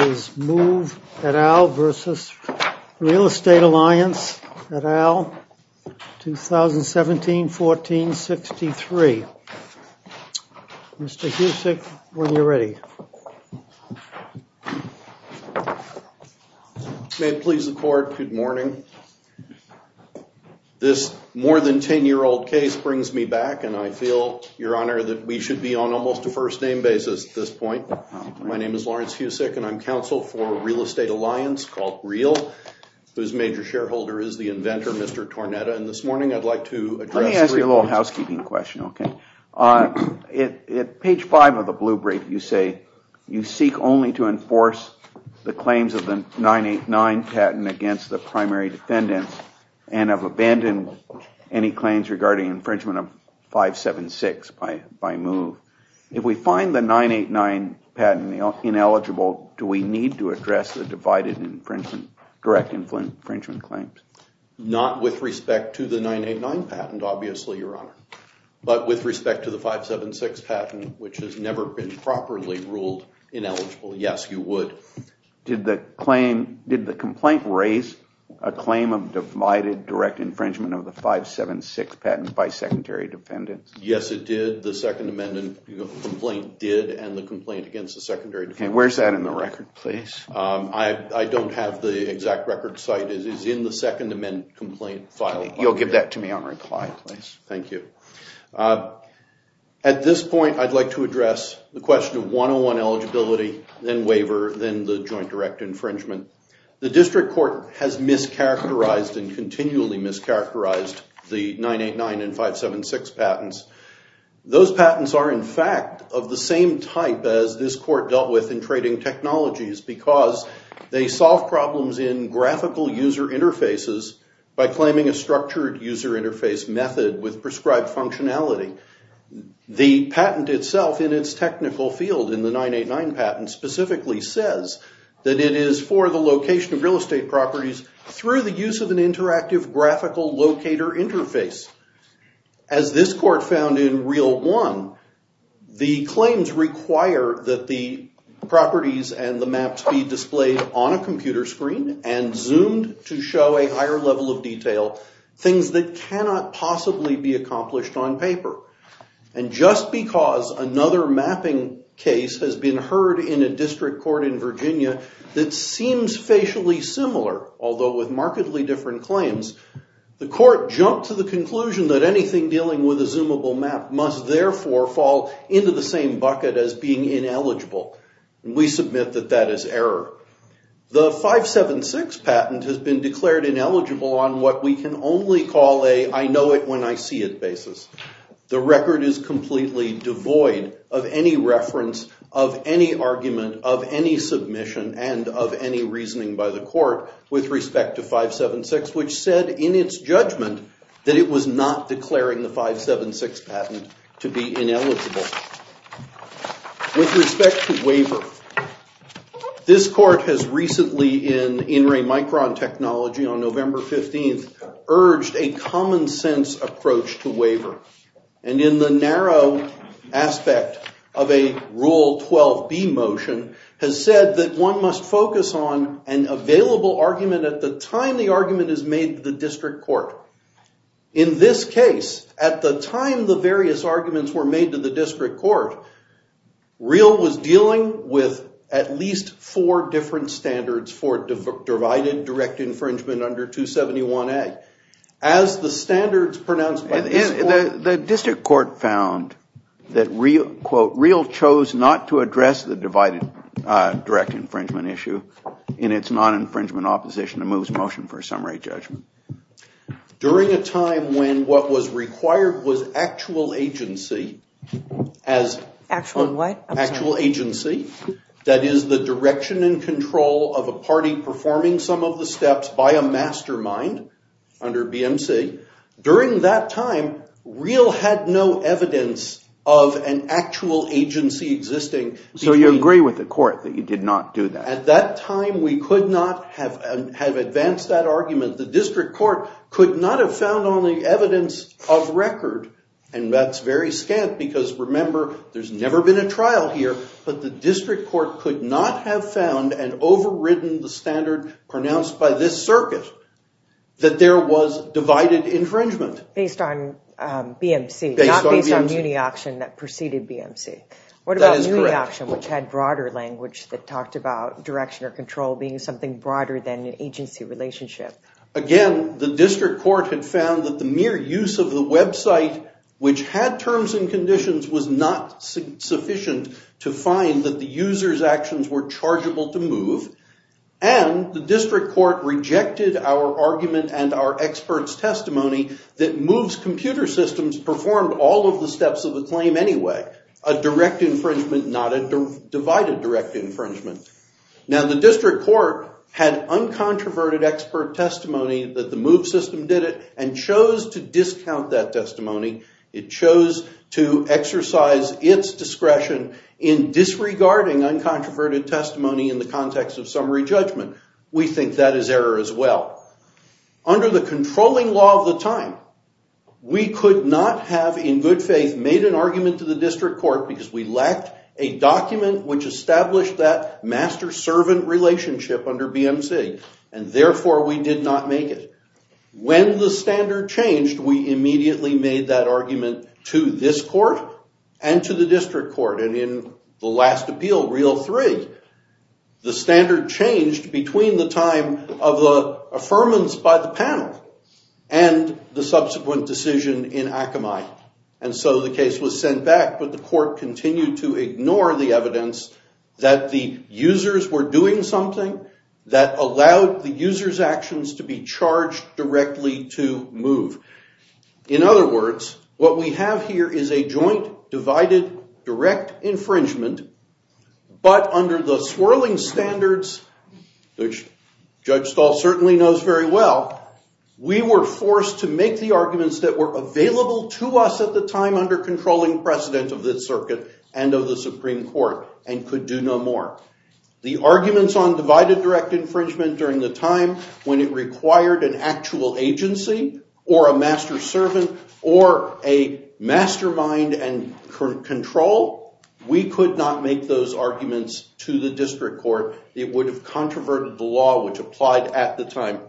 is MOVE, et al. v. Real Estate Alliance, et al. 2017-14-63. Mr. Husick, when you're ready. May it please the Court, good morning. This more than 10-year-old case brings me back and I feel, Your Honor, that we should be on almost a first-name basis at this point. My name is Lawrence Husick and I'm counsel for Real Estate Alliance, called REAL, whose major shareholder is the inventor, Mr. Tornetta, and this morning I'd like to address- Let me ask you a little housekeeping question, okay? On page 5 of the blue brief you say, you seek only to enforce the claims of the 989 patent against the primary defendants and have abandoned any claims regarding infringement of 576 by MOVE. If we find the 989 patent ineligible, do we need to address the divided direct infringement claims? Not with respect to the 989 patent, obviously, Your Honor, but with respect to the 576 patent, which has never been properly ruled ineligible. Yes, you would. Did the complaint raise a claim of divided direct infringement of the 576 patent by Where's that in the record, please? I don't have the exact record. The site is in the Second Amendment complaint file. You'll give that to me on reply, please. Thank you. At this point, I'd like to address the question of 101 eligibility, then waiver, then the joint direct infringement. The District Court has mischaracterized and continually mischaracterized the 989 and 576 patents. Those patents are, in fact, of the same type as this Court dealt with in trading technologies because they solve problems in graphical user interfaces by claiming a structured user interface method with prescribed functionality. The patent itself in its technical field in the 989 patent specifically says that it is for the location of real estate properties through the use of an interactive graphical locator interface. As this Court found in Reel 1, the claims require that the properties and the maps be displayed on a computer screen and zoomed to show a higher level of detail, things that cannot possibly be accomplished on paper. And just because another mapping case has been heard in a district court in Virginia that seems facially similar, although with markedly different claims, the Court jumped to the conclusion that anything dealing with a zoomable map must, therefore, fall into the same bucket as being ineligible. We submit that that is error. The 576 patent has been declared ineligible on what we can only call a I-know-it-when-I-see-it basis. The record is completely devoid of any reference, of any argument, of any submission, and of any reasoning by the Court with respect to 576, which said in its judgment that it was not declaring the 576 patent to be ineligible. With respect to waiver, this Court has recently in In Re Micron Technology on November 15th motion has said that one must focus on an available argument at the time the argument is made to the district court. In this case, at the time the various arguments were made to the district court, Real was dealing with at least four different standards for divided direct infringement under 271A. As the standards pronounced by the district court found that Real chose not to address the divided direct infringement issue in its non-infringement opposition, it moves motion for a summary judgment. During a time when what was required was actual agency, that is, the direction and control of a party performing some of the steps by a mastermind under BMC, during that time Real had no evidence of an actual agency existing. So you agree with the Court that you did not do that? At that time we could not have advanced that argument. The district court could not have found on the evidence of record, and that's very scant because remember there's never been a trial here, but the district court could not have found and overridden the standard pronounced by this circuit that there was divided infringement. Based on BMC, not based on MuniAuction that preceded BMC. What about MuniAuction which had broader language that talked about direction or control being something broader than an agency relationship? Again, the district court had found that the mere use of the website which had terms and conditions was not sufficient to find that the user's actions were chargeable to move, and the district court rejected our argument and our experts testimony that moves computer systems performed all of the steps of the claim anyway. A direct infringement, not a divided direct infringement. Now the district court had uncontroverted expert testimony that the move system did it and chose to discount that testimony. It chose to exercise its discretion in disregarding uncontroverted testimony in the context of summary judgment. We think that is error as well. Under the controlling law of the time, we could not have in good faith made an argument to the district court because we lacked a document which established that master-servant relationship under BMC, and therefore we did not make it. When the standard changed, we immediately made that argument to this court and to the district court, and in the last appeal, Reel 3, the standard changed between the time of the affirmance by the panel and the subsequent decision in Akamai. And so the case was sent back, but the court continued to ignore the users were doing something that allowed the user's actions to be charged directly to move. In other words, what we have here is a joint divided direct infringement, but under the swirling standards, which Judge Stahl certainly knows very well, we were forced to make the arguments that were available to us at the time under controlling precedent of this circuit and of the Supreme Court and could do no more. The arguments on divided direct infringement during the time when it required an actual agency or a master-servant or a mastermind and control, we could not make those arguments to the district court. It would have controverted the law which applied at the time.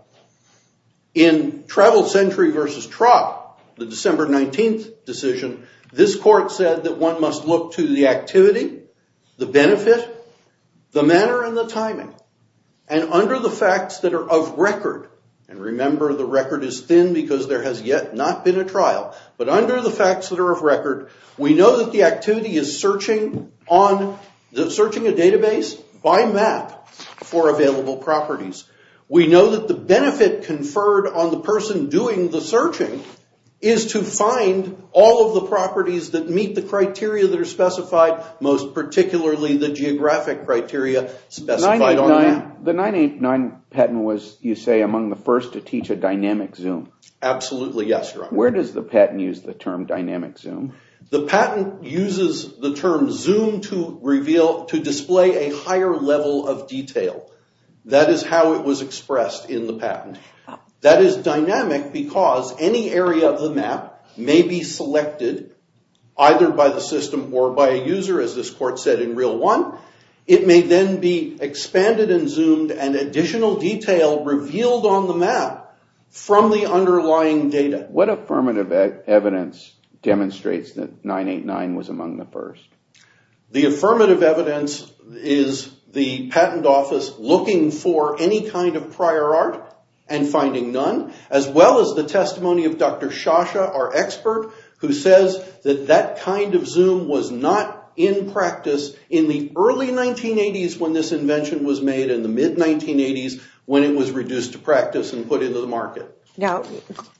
In Travel Century versus TROC, the December 19th decision, this court said that one must look to the activity, the benefit, the manner, and the timing. And under the facts that are of record, and remember the record is thin because there has yet not been a trial, but under the facts that are of record, we know that the activity is searching a database by map for available properties. We know that the benefit conferred on the person doing the searching is to find all of the properties that meet the criteria that are specified, most particularly the geographic criteria specified on the map. The 989 patent was, you say, among the first to teach a dynamic zoom. Absolutely, yes. Where does the patent use the term dynamic zoom? The patent uses the term zoom to reveal, to display a higher level of detail. That is how it was expressed in the map may be selected either by the system or by a user as this court said in Real One. It may then be expanded and zoomed and additional detail revealed on the map from the underlying data. What affirmative evidence demonstrates that 989 was among the first? The affirmative evidence is the patent office looking for any kind of prior art and finding none, as well as the testimony of Dr. Shasha, our expert, who says that that kind of zoom was not in practice in the early 1980s when this invention was made and the mid-1980s when it was reduced to practice and put into the market. Now,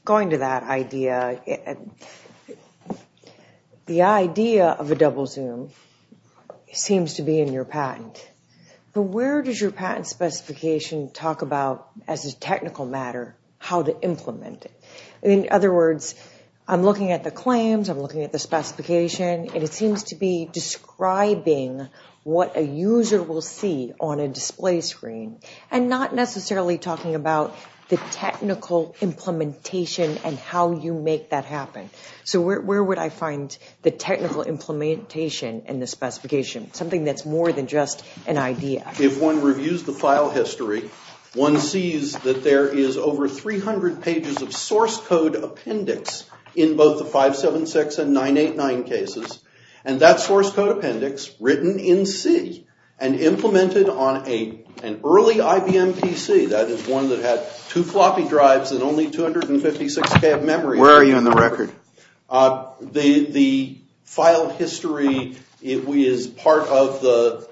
going to that idea, the idea of a double zoom seems to be in your patent, but where does your patent specification talk about as a technical matter how to implement it? In other words, I'm looking at the claims, I'm looking at the specification, and it seems to be describing what a user will see on a display screen and not necessarily talking about the technical implementation and how you make that happen. So where would I find the technical implementation in the specification, something that's more than just an idea? If one reviews the file history, one sees that there is over 300 pages of source code appendix in both the 576 and 989 cases, and that source code appendix written in C and implemented on an early IBM PC, that is one that had two floppy drives and only 256K of memory. Where are you in the record? The file history is part of the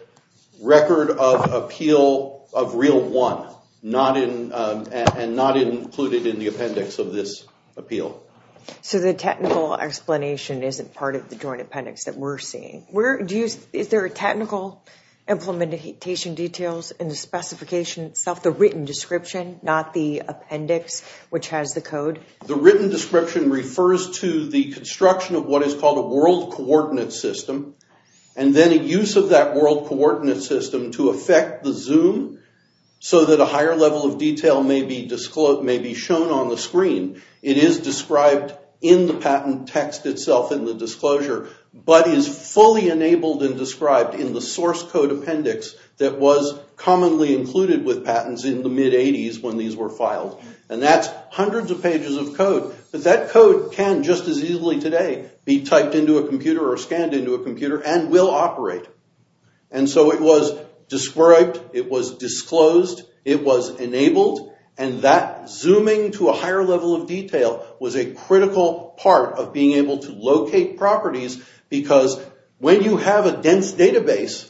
record of appeal of real one, and not included in the appendix of this appeal. So the technical explanation isn't part of the joint appendix that we're seeing. Is there a technical implementation details in the specification itself, the written description, not the appendix which has the code? The written description refers to the construction of what is called a world coordinate system, and then a use of that world coordinate system to affect the zoom so that a higher level of detail may be shown on the screen. It is described in the patent text itself in the disclosure, but is fully enabled and described in the source code appendix that was commonly included with patents in the mid-80s when these were filed. And that's hundreds of pages of code, but that code can just as easily today be typed into a computer or scanned into a computer and will operate. And so it was described, it was disclosed, it was enabled, and that zooming to a higher level of detail was a critical part of being able to locate properties because when you have a dense database,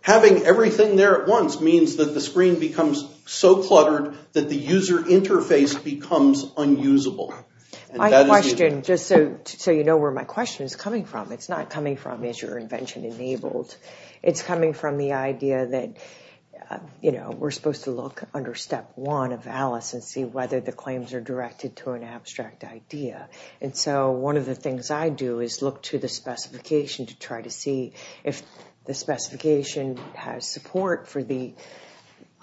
having everything there at once means that the screen becomes so cluttered that the user interface becomes unusable. My question, just so you know where my question is coming from, it's not coming from is your invention enabled. It's coming from the idea that, you know, we're supposed to look under step one of Alice and see whether the claims are directed to an abstract idea. And so one of the things I do is look to the specification to try to see if the specification has support for the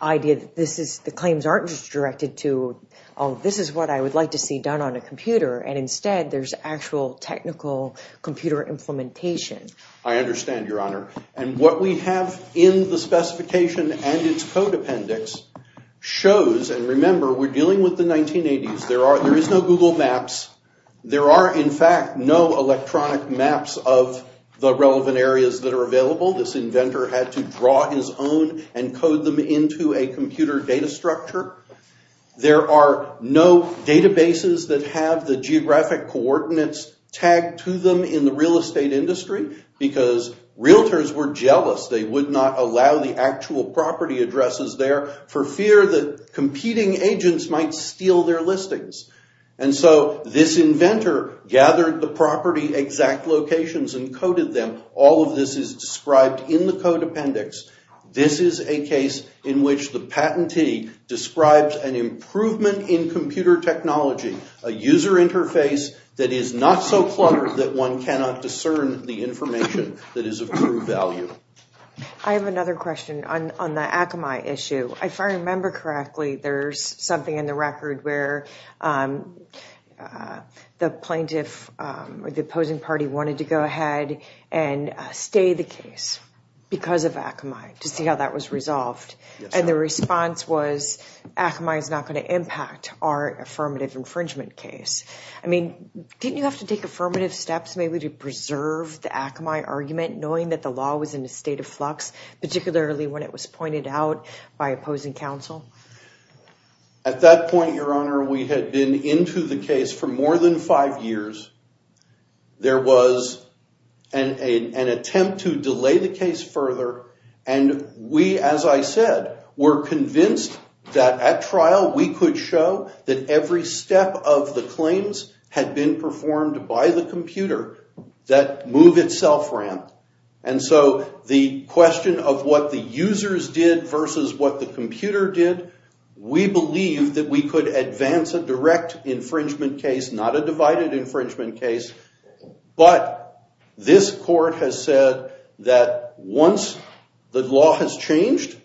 idea that this is, the claims aren't just directed to, oh, this is what I would like to see done on a computer, and instead there's actual technical computer implementation. I understand, Your Honor, and what we have in the specification and its code appendix shows, and remember we're dealing with the 1980s, there is no Google Maps. There are, in fact, no electronic maps of the relevant areas that are available. This inventor had to draw his own and code them into a computer data structure. There are no databases that have the geographic coordinates tagged to them in the real estate industry because realtors were jealous they would not allow the actual property addresses there for fear that competing agents might steal their listings. And so this inventor gathered the property exact locations and coded them. All of this is described in the code appendix. This is a case in which the patentee describes an improvement in computer technology, a user interface that is not so cluttered that one cannot discern the information that is of true value. I have another question on the Akamai issue. If I remember correctly, there's something in the record where the plaintiff or the opposing party wanted to go ahead and stay the case because of Akamai to see how that was resolved, and the response was Akamai is not going to impact our affirmative infringement case. I mean, didn't you have to take affirmative steps maybe to preserve the Akamai argument knowing that the law was in a state of flux, particularly when it was pointed out by opposing counsel? At that point, Your Honor, we had been into the case for more than five years. There was an attempt to delay the case further, and we, as I said, were convinced that at trial we could show that every step of the claims had been performed by the computer that move itself ramp, and so the question of what the users did versus what the computer did, we believe that we could advance a direct infringement case, not a divided infringement case, but this court has said that once the law has changed,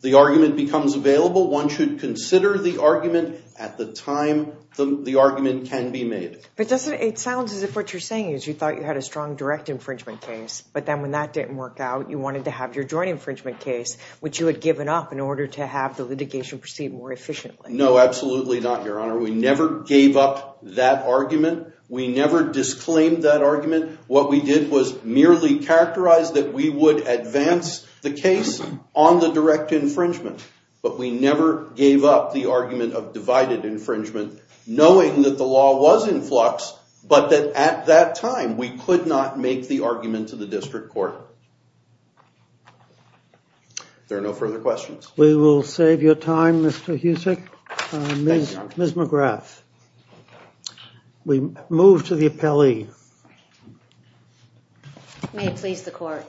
the argument becomes available. One should consider the argument at the time the argument can be made. But doesn't it sound as if what you're saying is you thought you had a strong direct infringement case, but then when that didn't work out, you wanted to have your joint infringement case, which you had given up in order to have the litigation proceed more efficiently? No, absolutely not, Your Honor. We never gave up that argument. We never disclaimed that argument. What we did was merely characterize that we would advance the case on the direct infringement, but we never gave up the argument of divided infringement knowing that the law was in flux, but that at that time we could not make the argument to the district court. There are no further questions. We will save your time, Mr. Husek. Ms. McGrath, we move to the appellee. May it please the court.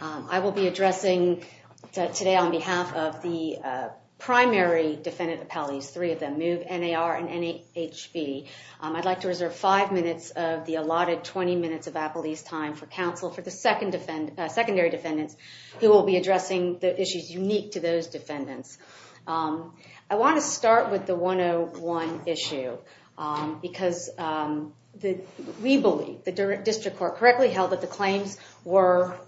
I will be addressing today on behalf of the primary defendant appellees, three of them, MOVE, NAR, and NHB. I'd like to reserve five minutes of the allotted 20 minutes of appellee's time for counsel for the secondary defendants who will be addressing the issues unique to those defendants. I want to start with the 101 issue because we believe the district court correctly held that the claims are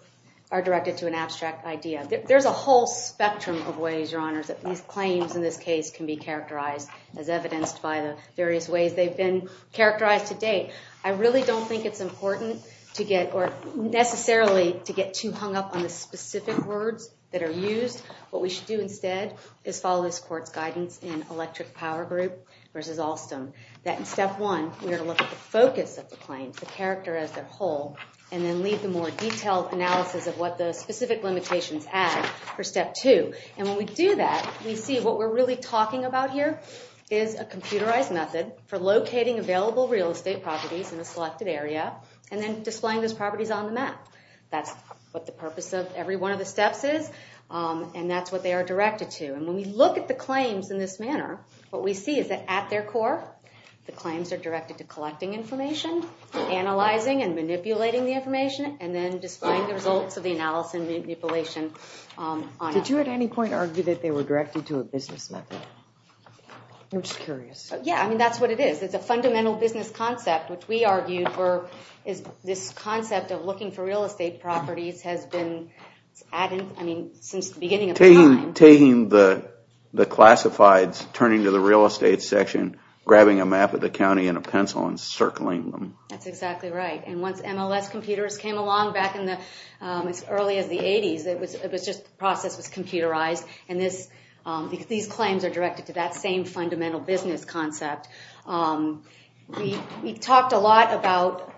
directed to an abstract idea. There's a whole spectrum of ways, Your Honors, that these claims in this case can be characterized as evidenced by the various ways they've been characterized to date. I really don't think it's important to get or necessarily to get too hung up on the specific words that are used. What we should do instead is follow this court's guidance in Electric Power Group versus Alstom that in step one we are to look at the focus of the claims, the character as a whole, and then lead the more for step two. When we do that we see what we're really talking about here is a computerized method for locating available real estate properties in a selected area and then displaying those properties on the map. That's what the purpose of every one of the steps is and that's what they are directed to. When we look at the claims in this manner what we see is that at their core the claims are directed to collecting information, analyzing and manipulating the Did you at any point argue that they were directed to a business method? I'm just curious. Yeah, I mean that's what it is. It's a fundamental business concept which we argued for is this concept of looking for real estate properties has been added, I mean, since the beginning of time. Taking the classifieds, turning to the real estate section, grabbing a map of the county in a pencil and circling them. That's exactly right and once MLS computers came along back in as early as the 80s, the process was computerized and these claims are directed to that same fundamental business concept. We talked a lot about,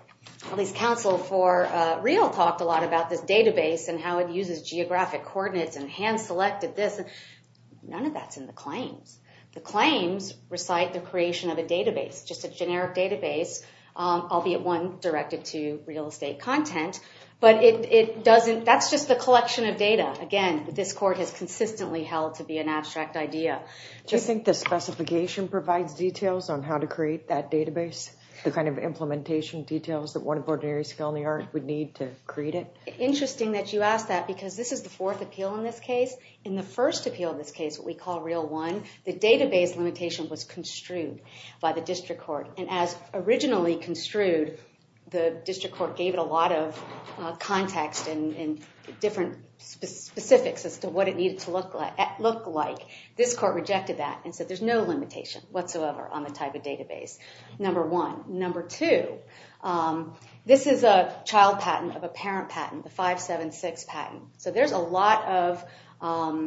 at least Council for Real talked a lot about this database and how it uses geographic coordinates and hand-selected this. None of that's in the claims. The claims recite the creation of a database, just a generic database, albeit one directed to real estate content, but that's just the collection of data. Again, this court has consistently held to be an abstract idea. Do you think the specification provides details on how to create that database? The kind of implementation details that one ordinary skill in the art would need to create it? Interesting that you ask that because this is the fourth appeal in this case. In the first appeal in this case, what we call Real One, the database limitation was construed by the district court and as originally construed, the district court gave it a lot of context and different specifics as to what it needed to look like. This court rejected that and said there's no limitation whatsoever on the type of database, number one. Number two, this is a child patent of a parent patent, the 576 patent, so there's a lot of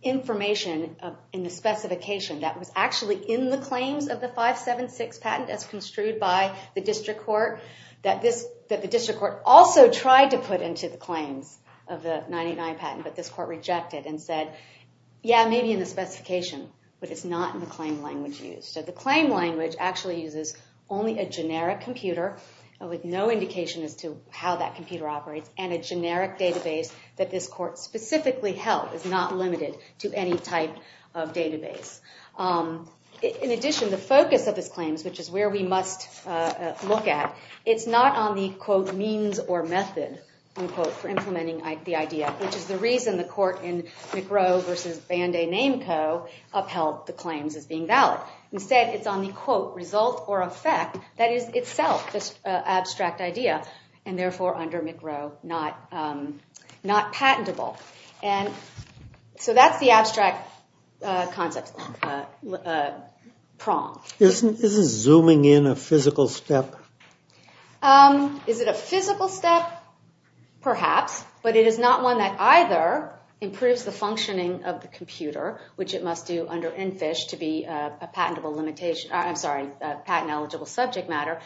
in the specification that was actually in the claims of the 576 patent as construed by the district court that the district court also tried to put into the claims of the 989 patent, but this court rejected and said, yeah, maybe in the specification, but it's not in the claim language used. So the claim language actually uses only a generic computer with no indication as to how that computer operates and a generic database that this court specifically held is not limited to any type of database. In addition, the focus of this claims, which is where we must look at, it's not on the, quote, means or method, unquote, for implementing the idea, which is the reason the court in McRow versus Banday-Nameco upheld the claims as being valid. Instead, it's on the, quote, result or effect that is itself this abstract idea and therefore under McRow not patentable. And so that's the abstract concept prong. Isn't zooming in a physical step? Is it a physical step? Perhaps, but it is not one that either improves the functioning of the computer, which it must do under NFISH to be a patentable subject matter.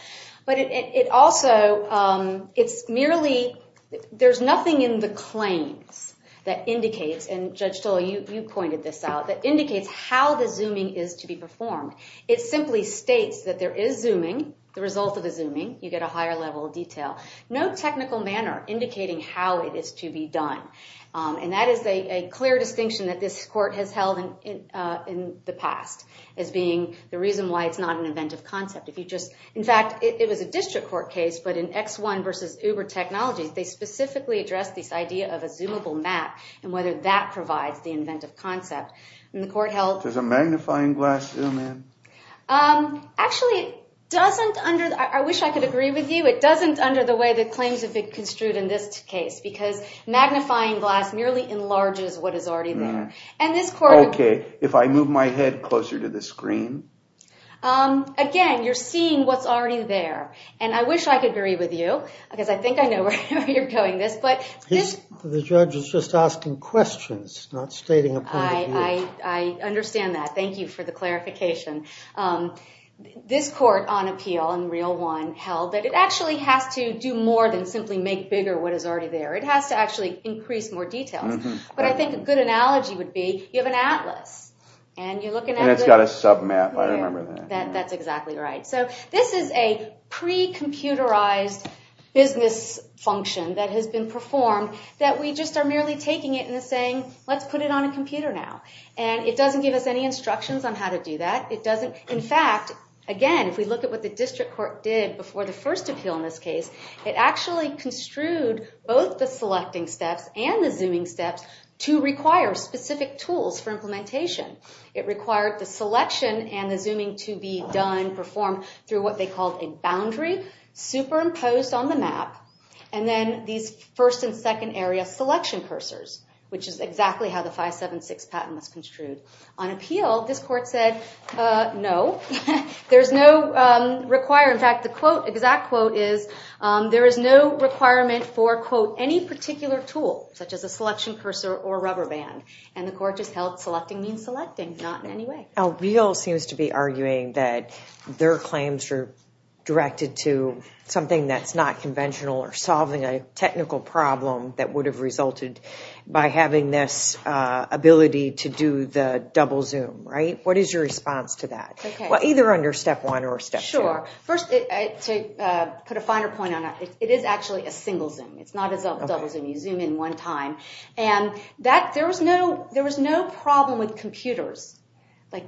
But it also, it's merely, there's nothing in the claims that indicates, and Judge Tullo, you pointed this out, that indicates how the zooming is to be performed. It simply states that there is zooming. The result of the zooming, you get a higher level of detail. No technical manner indicating how it is to be done. And that is a clear distinction that this court has held in the past as being the reason why it's not an inventive concept. If you just, in fact, it was a district court case, but in X1 versus Uber Technologies, they specifically addressed this idea of a zoomable map and whether that provides the inventive concept. And the court held- Does a magnifying glass zoom in? Actually, it doesn't under, I wish I could agree with you. It doesn't under the way the claims have been construed in this case because magnifying glass merely enlarges what is already there. And this court- Okay, if I move my head closer to the screen. Again, you're seeing what's already there. And I wish I could agree with you, because I think I know where you're going with this. But this- The judge is just asking questions, not stating a point of view. I understand that. Thank you for the clarification. This court on appeal in Real One held that it actually has to do more than simply make bigger what is already there. It has to actually increase more details. But I think a good analogy would be, you have an atlas and you're looking at- And it's got a sub-map, I remember that. That's exactly right. So this is a pre-computerized business function that has been performed that we just are merely taking it and saying, let's put it on a computer now. And it doesn't give us any instructions on how to do that. It doesn't, in fact, again, if we look at what the district court did before the first appeal in this case, it actually construed both the selecting steps and the zooming steps to require specific tools for implementation. It required the selection and the zooming to be done, performed through what they called a boundary superimposed on the map. And then these first and second area selection cursors, which is exactly how the 576 patent was construed. On appeal, this court said, no, there is no requirement. In fact, the exact quote is, there is no requirement for, quote, any particular tool, such as a selection cursor or rubber band. And the court just held selecting means selecting, not in any way. Alveo seems to be arguing that their claims are directed to something that's not conventional or a technical problem that would have resulted by having this ability to do the double zoom, right? What is your response to that? Either under step one or step two. Sure. First, to put a finer point on that, it is actually a single zoom. It's not a double zoom. You zoom in one time. And there was no problem with computers.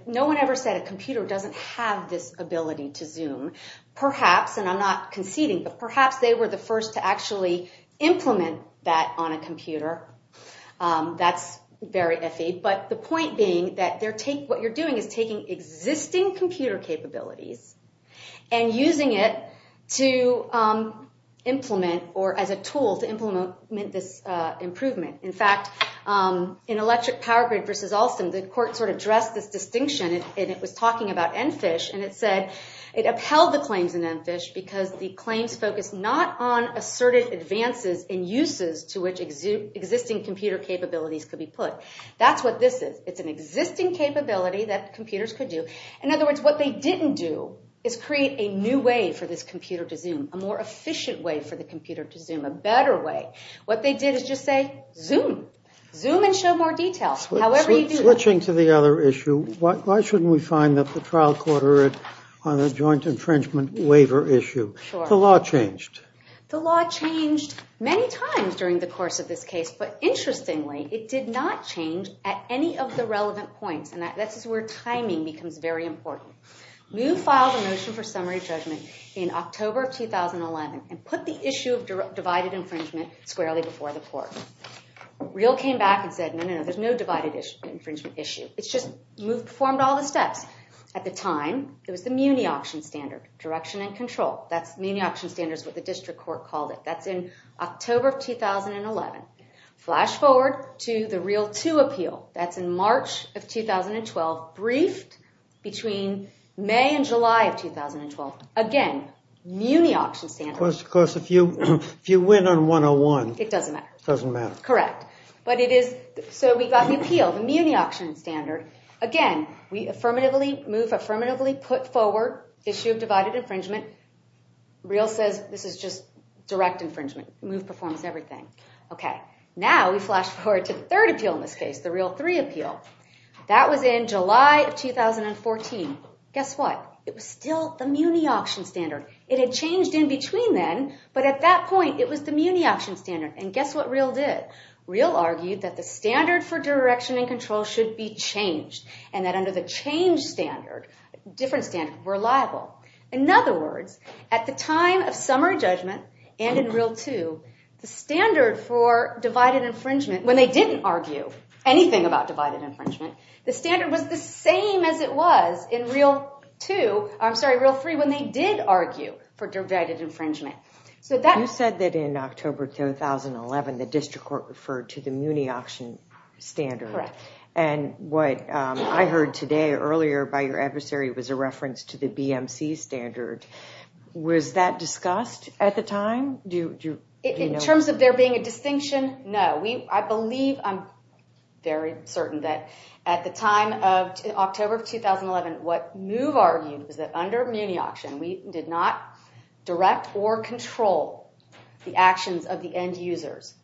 No one ever said a computer doesn't have this ability to zoom. Perhaps, and I'm not conceding, but perhaps they were the first to actually implement that on a computer. That's very iffy. But the point being that what you're doing is taking existing computer capabilities and using it to implement, or as a tool to implement this improvement. In fact, in Electric Power Grid versus Alstom, the court sort of dressed this distinction. And it was talking about EnFISH. And it said, because the claims focus not on asserted advances and uses to which existing computer capabilities could be put. That's what this is. It's an existing capability that computers could do. In other words, what they didn't do is create a new way for this computer to zoom, a more efficient way for the computer to zoom, a better way. What they did is just say, zoom. Zoom and show more detail. Switching to the other issue, why shouldn't we find that the trial on a joint infringement waiver issue? The law changed. The law changed many times during the course of this case. But interestingly, it did not change at any of the relevant points. And this is where timing becomes very important. Moove filed a motion for summary judgment in October of 2011 and put the issue of divided infringement squarely before the court. Real came back and said, no, no, no, there's no divided infringement issue. It's just Moove performed all the steps. At the time, it was the Muni Auction Standard, direction and control. That's Muni Auction Standards, what the district court called it. That's in October of 2011. Flash forward to the Real 2 appeal. That's in March of 2012, briefed between May and July of 2012. Again, Muni Auction Standard. Of course, of course, if you win on 101. It doesn't matter. Doesn't matter. Correct. So we've got the appeal, the Muni Auction Standard. Again, Moove affirmatively put forward issue of divided infringement. Real says this is just direct infringement. Moove performs everything. Now we flash forward to the third appeal in this case, the Real 3 appeal. That was in July of 2014. Guess what? It was still the Muni Auction Standard. It had changed in between then, but at that point, it was the Muni Auction Standard. And guess what Real did? Real argued that the standard for direction and control should be changed, and that under the change standard, different standards were liable. In other words, at the time of summary judgment and in Real 2, the standard for divided infringement, when they didn't argue anything about divided infringement, the standard was the same as it was in Real 2, I'm sorry, Real 3, when they did argue for divided infringement. So you said that in October 2011, the district court referred to the Muni Auction Standard. And what I heard today earlier by your adversary was a reference to the BMC standard. Was that discussed at the time? In terms of there being a distinction, no. I believe, I'm very certain that at the time of October 2011, what Move argued was that under Muni Auction, we did not direct or control the actions of the end users.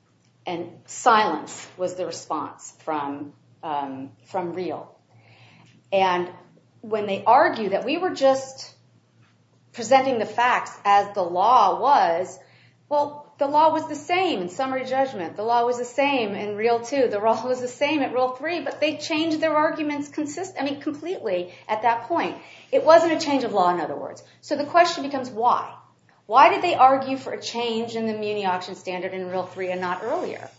And silence was the response from Real. And when they argued that we were just presenting the facts as the law was, well, the law was the same in summary judgment. The law was the same in Real 2. The law was the same in Real 3. But they changed their arguments completely at that point. It wasn't a change of law, in other words. So the question becomes, why? Why did they argue for a change in the Muni Auction Standard in Real 3 and not earlier?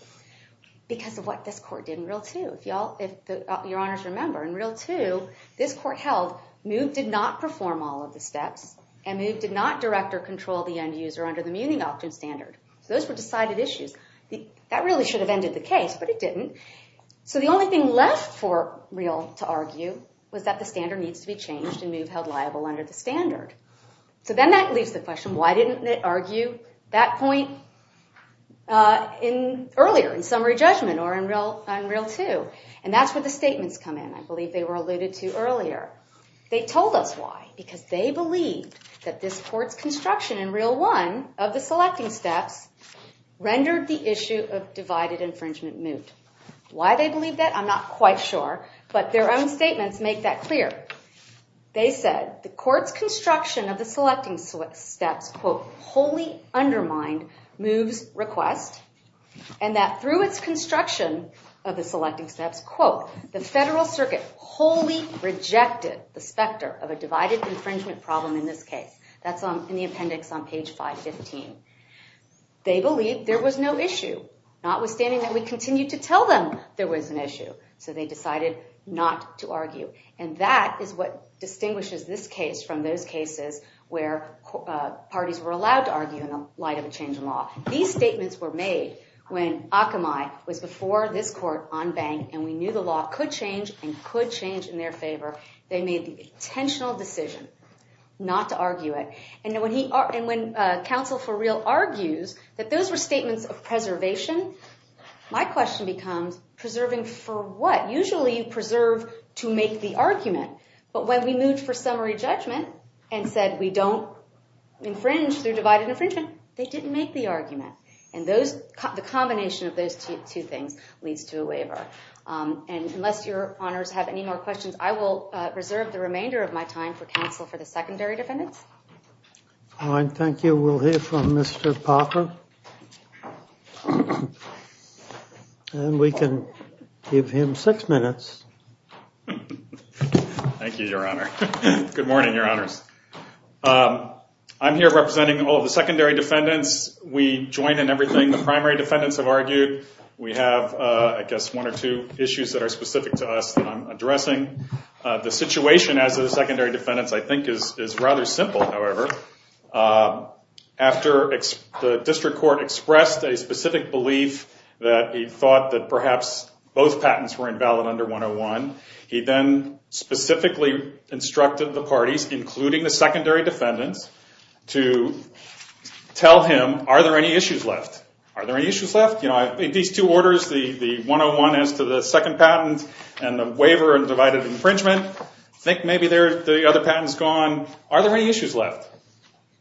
Because of what this court did in Real 2. If your honors remember, in Real 2, this court held Move did not perform all of the steps and Move did not direct or control the end user under the Muni Auction Standard. So those were decided issues. That really should have ended the case, but it didn't. So the only thing left for Real to argue was that the standard needs to be changed and Move held liable under the standard. So then that leaves the question, why didn't they argue that point earlier in summary judgment or on Real 2? And that's where the statements come in. I believe they were alluded to earlier. They told us why. Because they believed that this court's construction in Real 1 of the selecting steps rendered the issue of divided infringement Moot. Why they believe that, I'm not quite sure. But their own statements make that clear. They said the court's construction of the selecting steps, quote, wholly undermined Move's request and that through its construction of the selecting steps, quote, the Federal Circuit wholly rejected the specter of a divided infringement problem in this case. That's in the appendix on page 515. They believed there was no issue, notwithstanding that we continued to tell them there was an issue. So they decided not to argue. And that is what distinguishes this case from those cases where parties were allowed to argue in the light of a change in law. These statements were made when Akamai was before this court on bank and we knew the law could change and could change in their favor. They made the intentional decision not argue it. And when counsel for real argues that those were statements of preservation, my question becomes preserving for what? Usually you preserve to make the argument. But when we moved for summary judgment and said we don't infringe through divided infringement, they didn't make the argument. And the combination of those two things leads to a waiver. And unless your honors have any more questions, I will reserve the remainder of my time for counsel for the secondary defendants. All right. Thank you. We'll hear from Mr. Popper. And we can give him six minutes. Thank you, your honor. Good morning, your honors. I'm here representing all of the secondary defendants. We join in everything the primary defendants have argued. We have, I guess, one or two issues that are specific to us that is rather simple, however. After the district court expressed a specific belief that he thought that perhaps both patents were invalid under 101, he then specifically instructed the parties, including the secondary defendants, to tell him, are there any issues left? Are there any issues left? These two orders, the 101 as to the second patent and the waiver and divided infringement, think maybe the other patent's gone. Are there any issues left?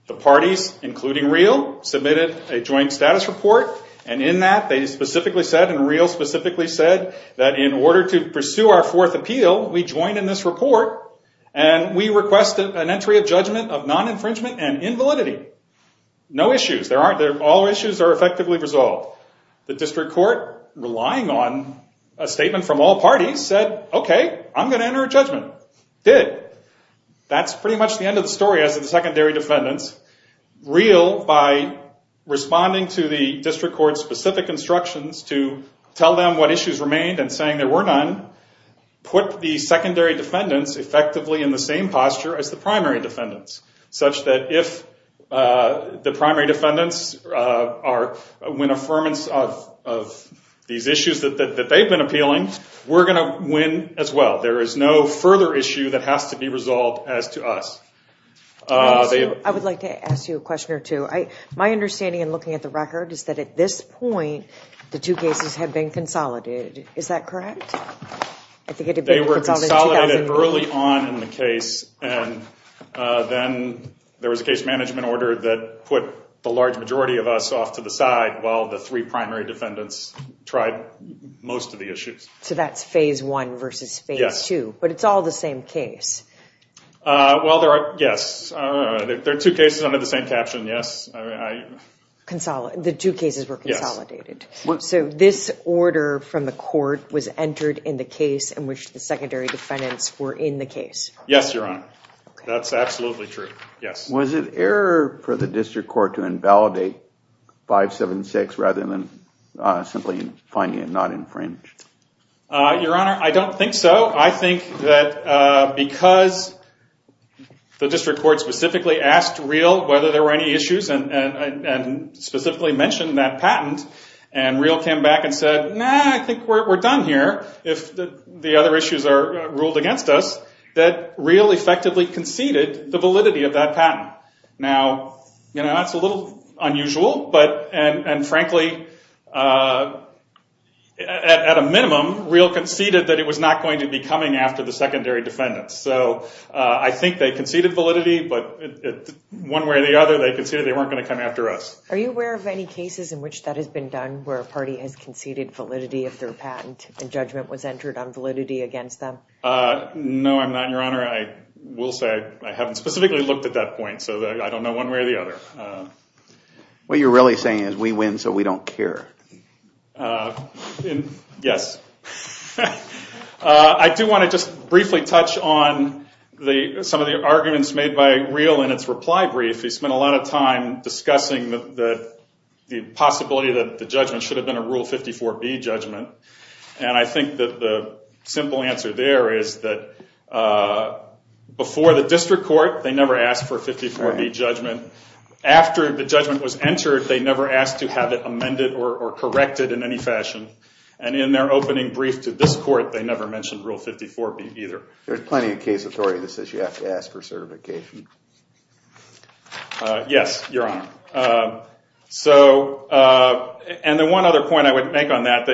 The parties, including Real, submitted a joint status report. And in that, they specifically said, and Real specifically said, that in order to pursue our fourth appeal, we join in this report and we request an entry of judgment of non-infringement and invalidity. No issues. All issues are effectively resolved. The district court, relying on a statement from all parties, said, okay, I'm going to enter a judgment. Did. That's pretty much the end of the story as to the secondary defendants. Real, by responding to the district court's specific instructions to tell them what issues remained and saying there were none, put the secondary defendants effectively in the same posture as the primary defendants, such that if the primary defendants win affirmance of these issues that they've been appealing, we're going to win as well. There is no further issue that has to be resolved as to us. I would like to ask you a question or two. My understanding in looking at the record is that at this point, the two cases have been consolidated. Is that correct? I think they were consolidated early on in the case. And then there was a case management order that put the large majority of us off to the side while the three primary defendants tried most of the issues. So that's phase one versus phase two, but it's all the same case. Well, there are, yes, there are two cases under the same caption. Yes. Consolidate. The two cases were consolidated. So this order from the court was entered in the case in which the secondary defendants were in the case? Yes, Your Honor. That's absolutely true. Yes. Was it error for the district court to invalidate 576 rather than simply finding it not infringed? Your Honor, I don't think so. I think that because the district court specifically asked Real whether there were any issues and specifically mentioned that patent, and Real came back and said, nah, I think we're done here. If the other issues are ruled against us, that Real effectively conceded the validity of that patent. Now, that's a little unusual, and frankly, at a minimum, Real conceded that it was not going to be coming after the secondary defendants. So I think they conceded validity, but one way or the other, they conceded they weren't going to come after us. Are you aware of any cases in which that has been done where a party has conceded validity of their patent and judgment was entered on validity against them? No, I'm not, Your Honor. I will say I haven't specifically looked at that point, so I don't know one way or the other. What you're really saying is we win so we don't care. Yes. I do want to just briefly touch on some of the arguments made by Real in its reply brief. He spent a lot of time discussing the possibility that the judgment should have been a Rule 54B judgment, and I think that the simple answer there is that before the district court, they never asked for a 54B judgment. After the judgment was entered, they never asked to have it amended or corrected in any fashion, and in their opening brief to this court, they never mentioned Rule 54B either. There's plenty of case authority that says you have to ask for certification. Yes, Your Honor. One other point I would make on that,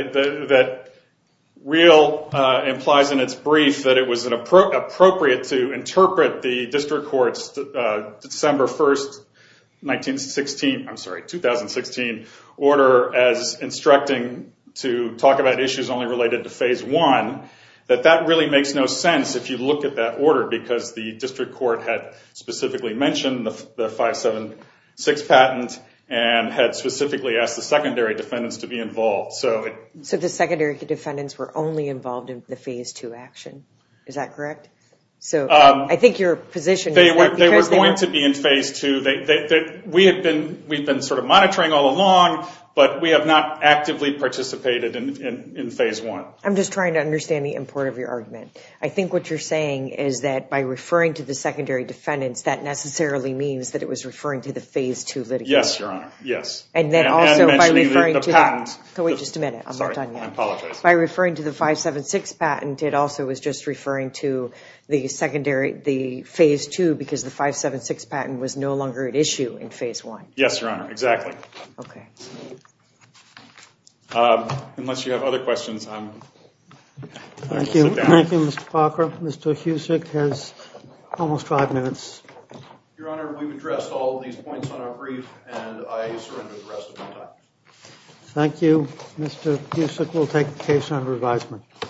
Real implies in its brief that it was appropriate to interpret the district court's December 1, 2016 order as instructing to talk about issues only related to Phase I. That really makes no sense if you look at that order, because the district court had specifically mentioned the 576 patent and had specifically asked the secondary defendants to be involved. The secondary defendants were only involved in the Phase II action. Is that correct? I think your position is that because they were going to be in Phase II, we've been monitoring all along, but we have not actively participated in Phase I. I'm just trying to understand the import of your argument. I think what you're saying is that by referring to the secondary defendants, that necessarily means that it was referring to the Phase II litigation. Yes, Your Honor. Yes. And then also by referring to the patent. Wait just a minute. Sorry, I apologize. By referring to the 576 patent, it also was just referring to the Phase II because the 576 patent was no longer at issue in Phase I. Yes, Your Honor. Exactly. Okay. Unless you have other questions, I'm going to sit down. Thank you, Mr. Parker. Mr. Husick has almost five minutes. Your Honor, we've addressed all these points on our brief, and I surrender the rest of my time. Thank you. Mr. Husick will take the case on revisement.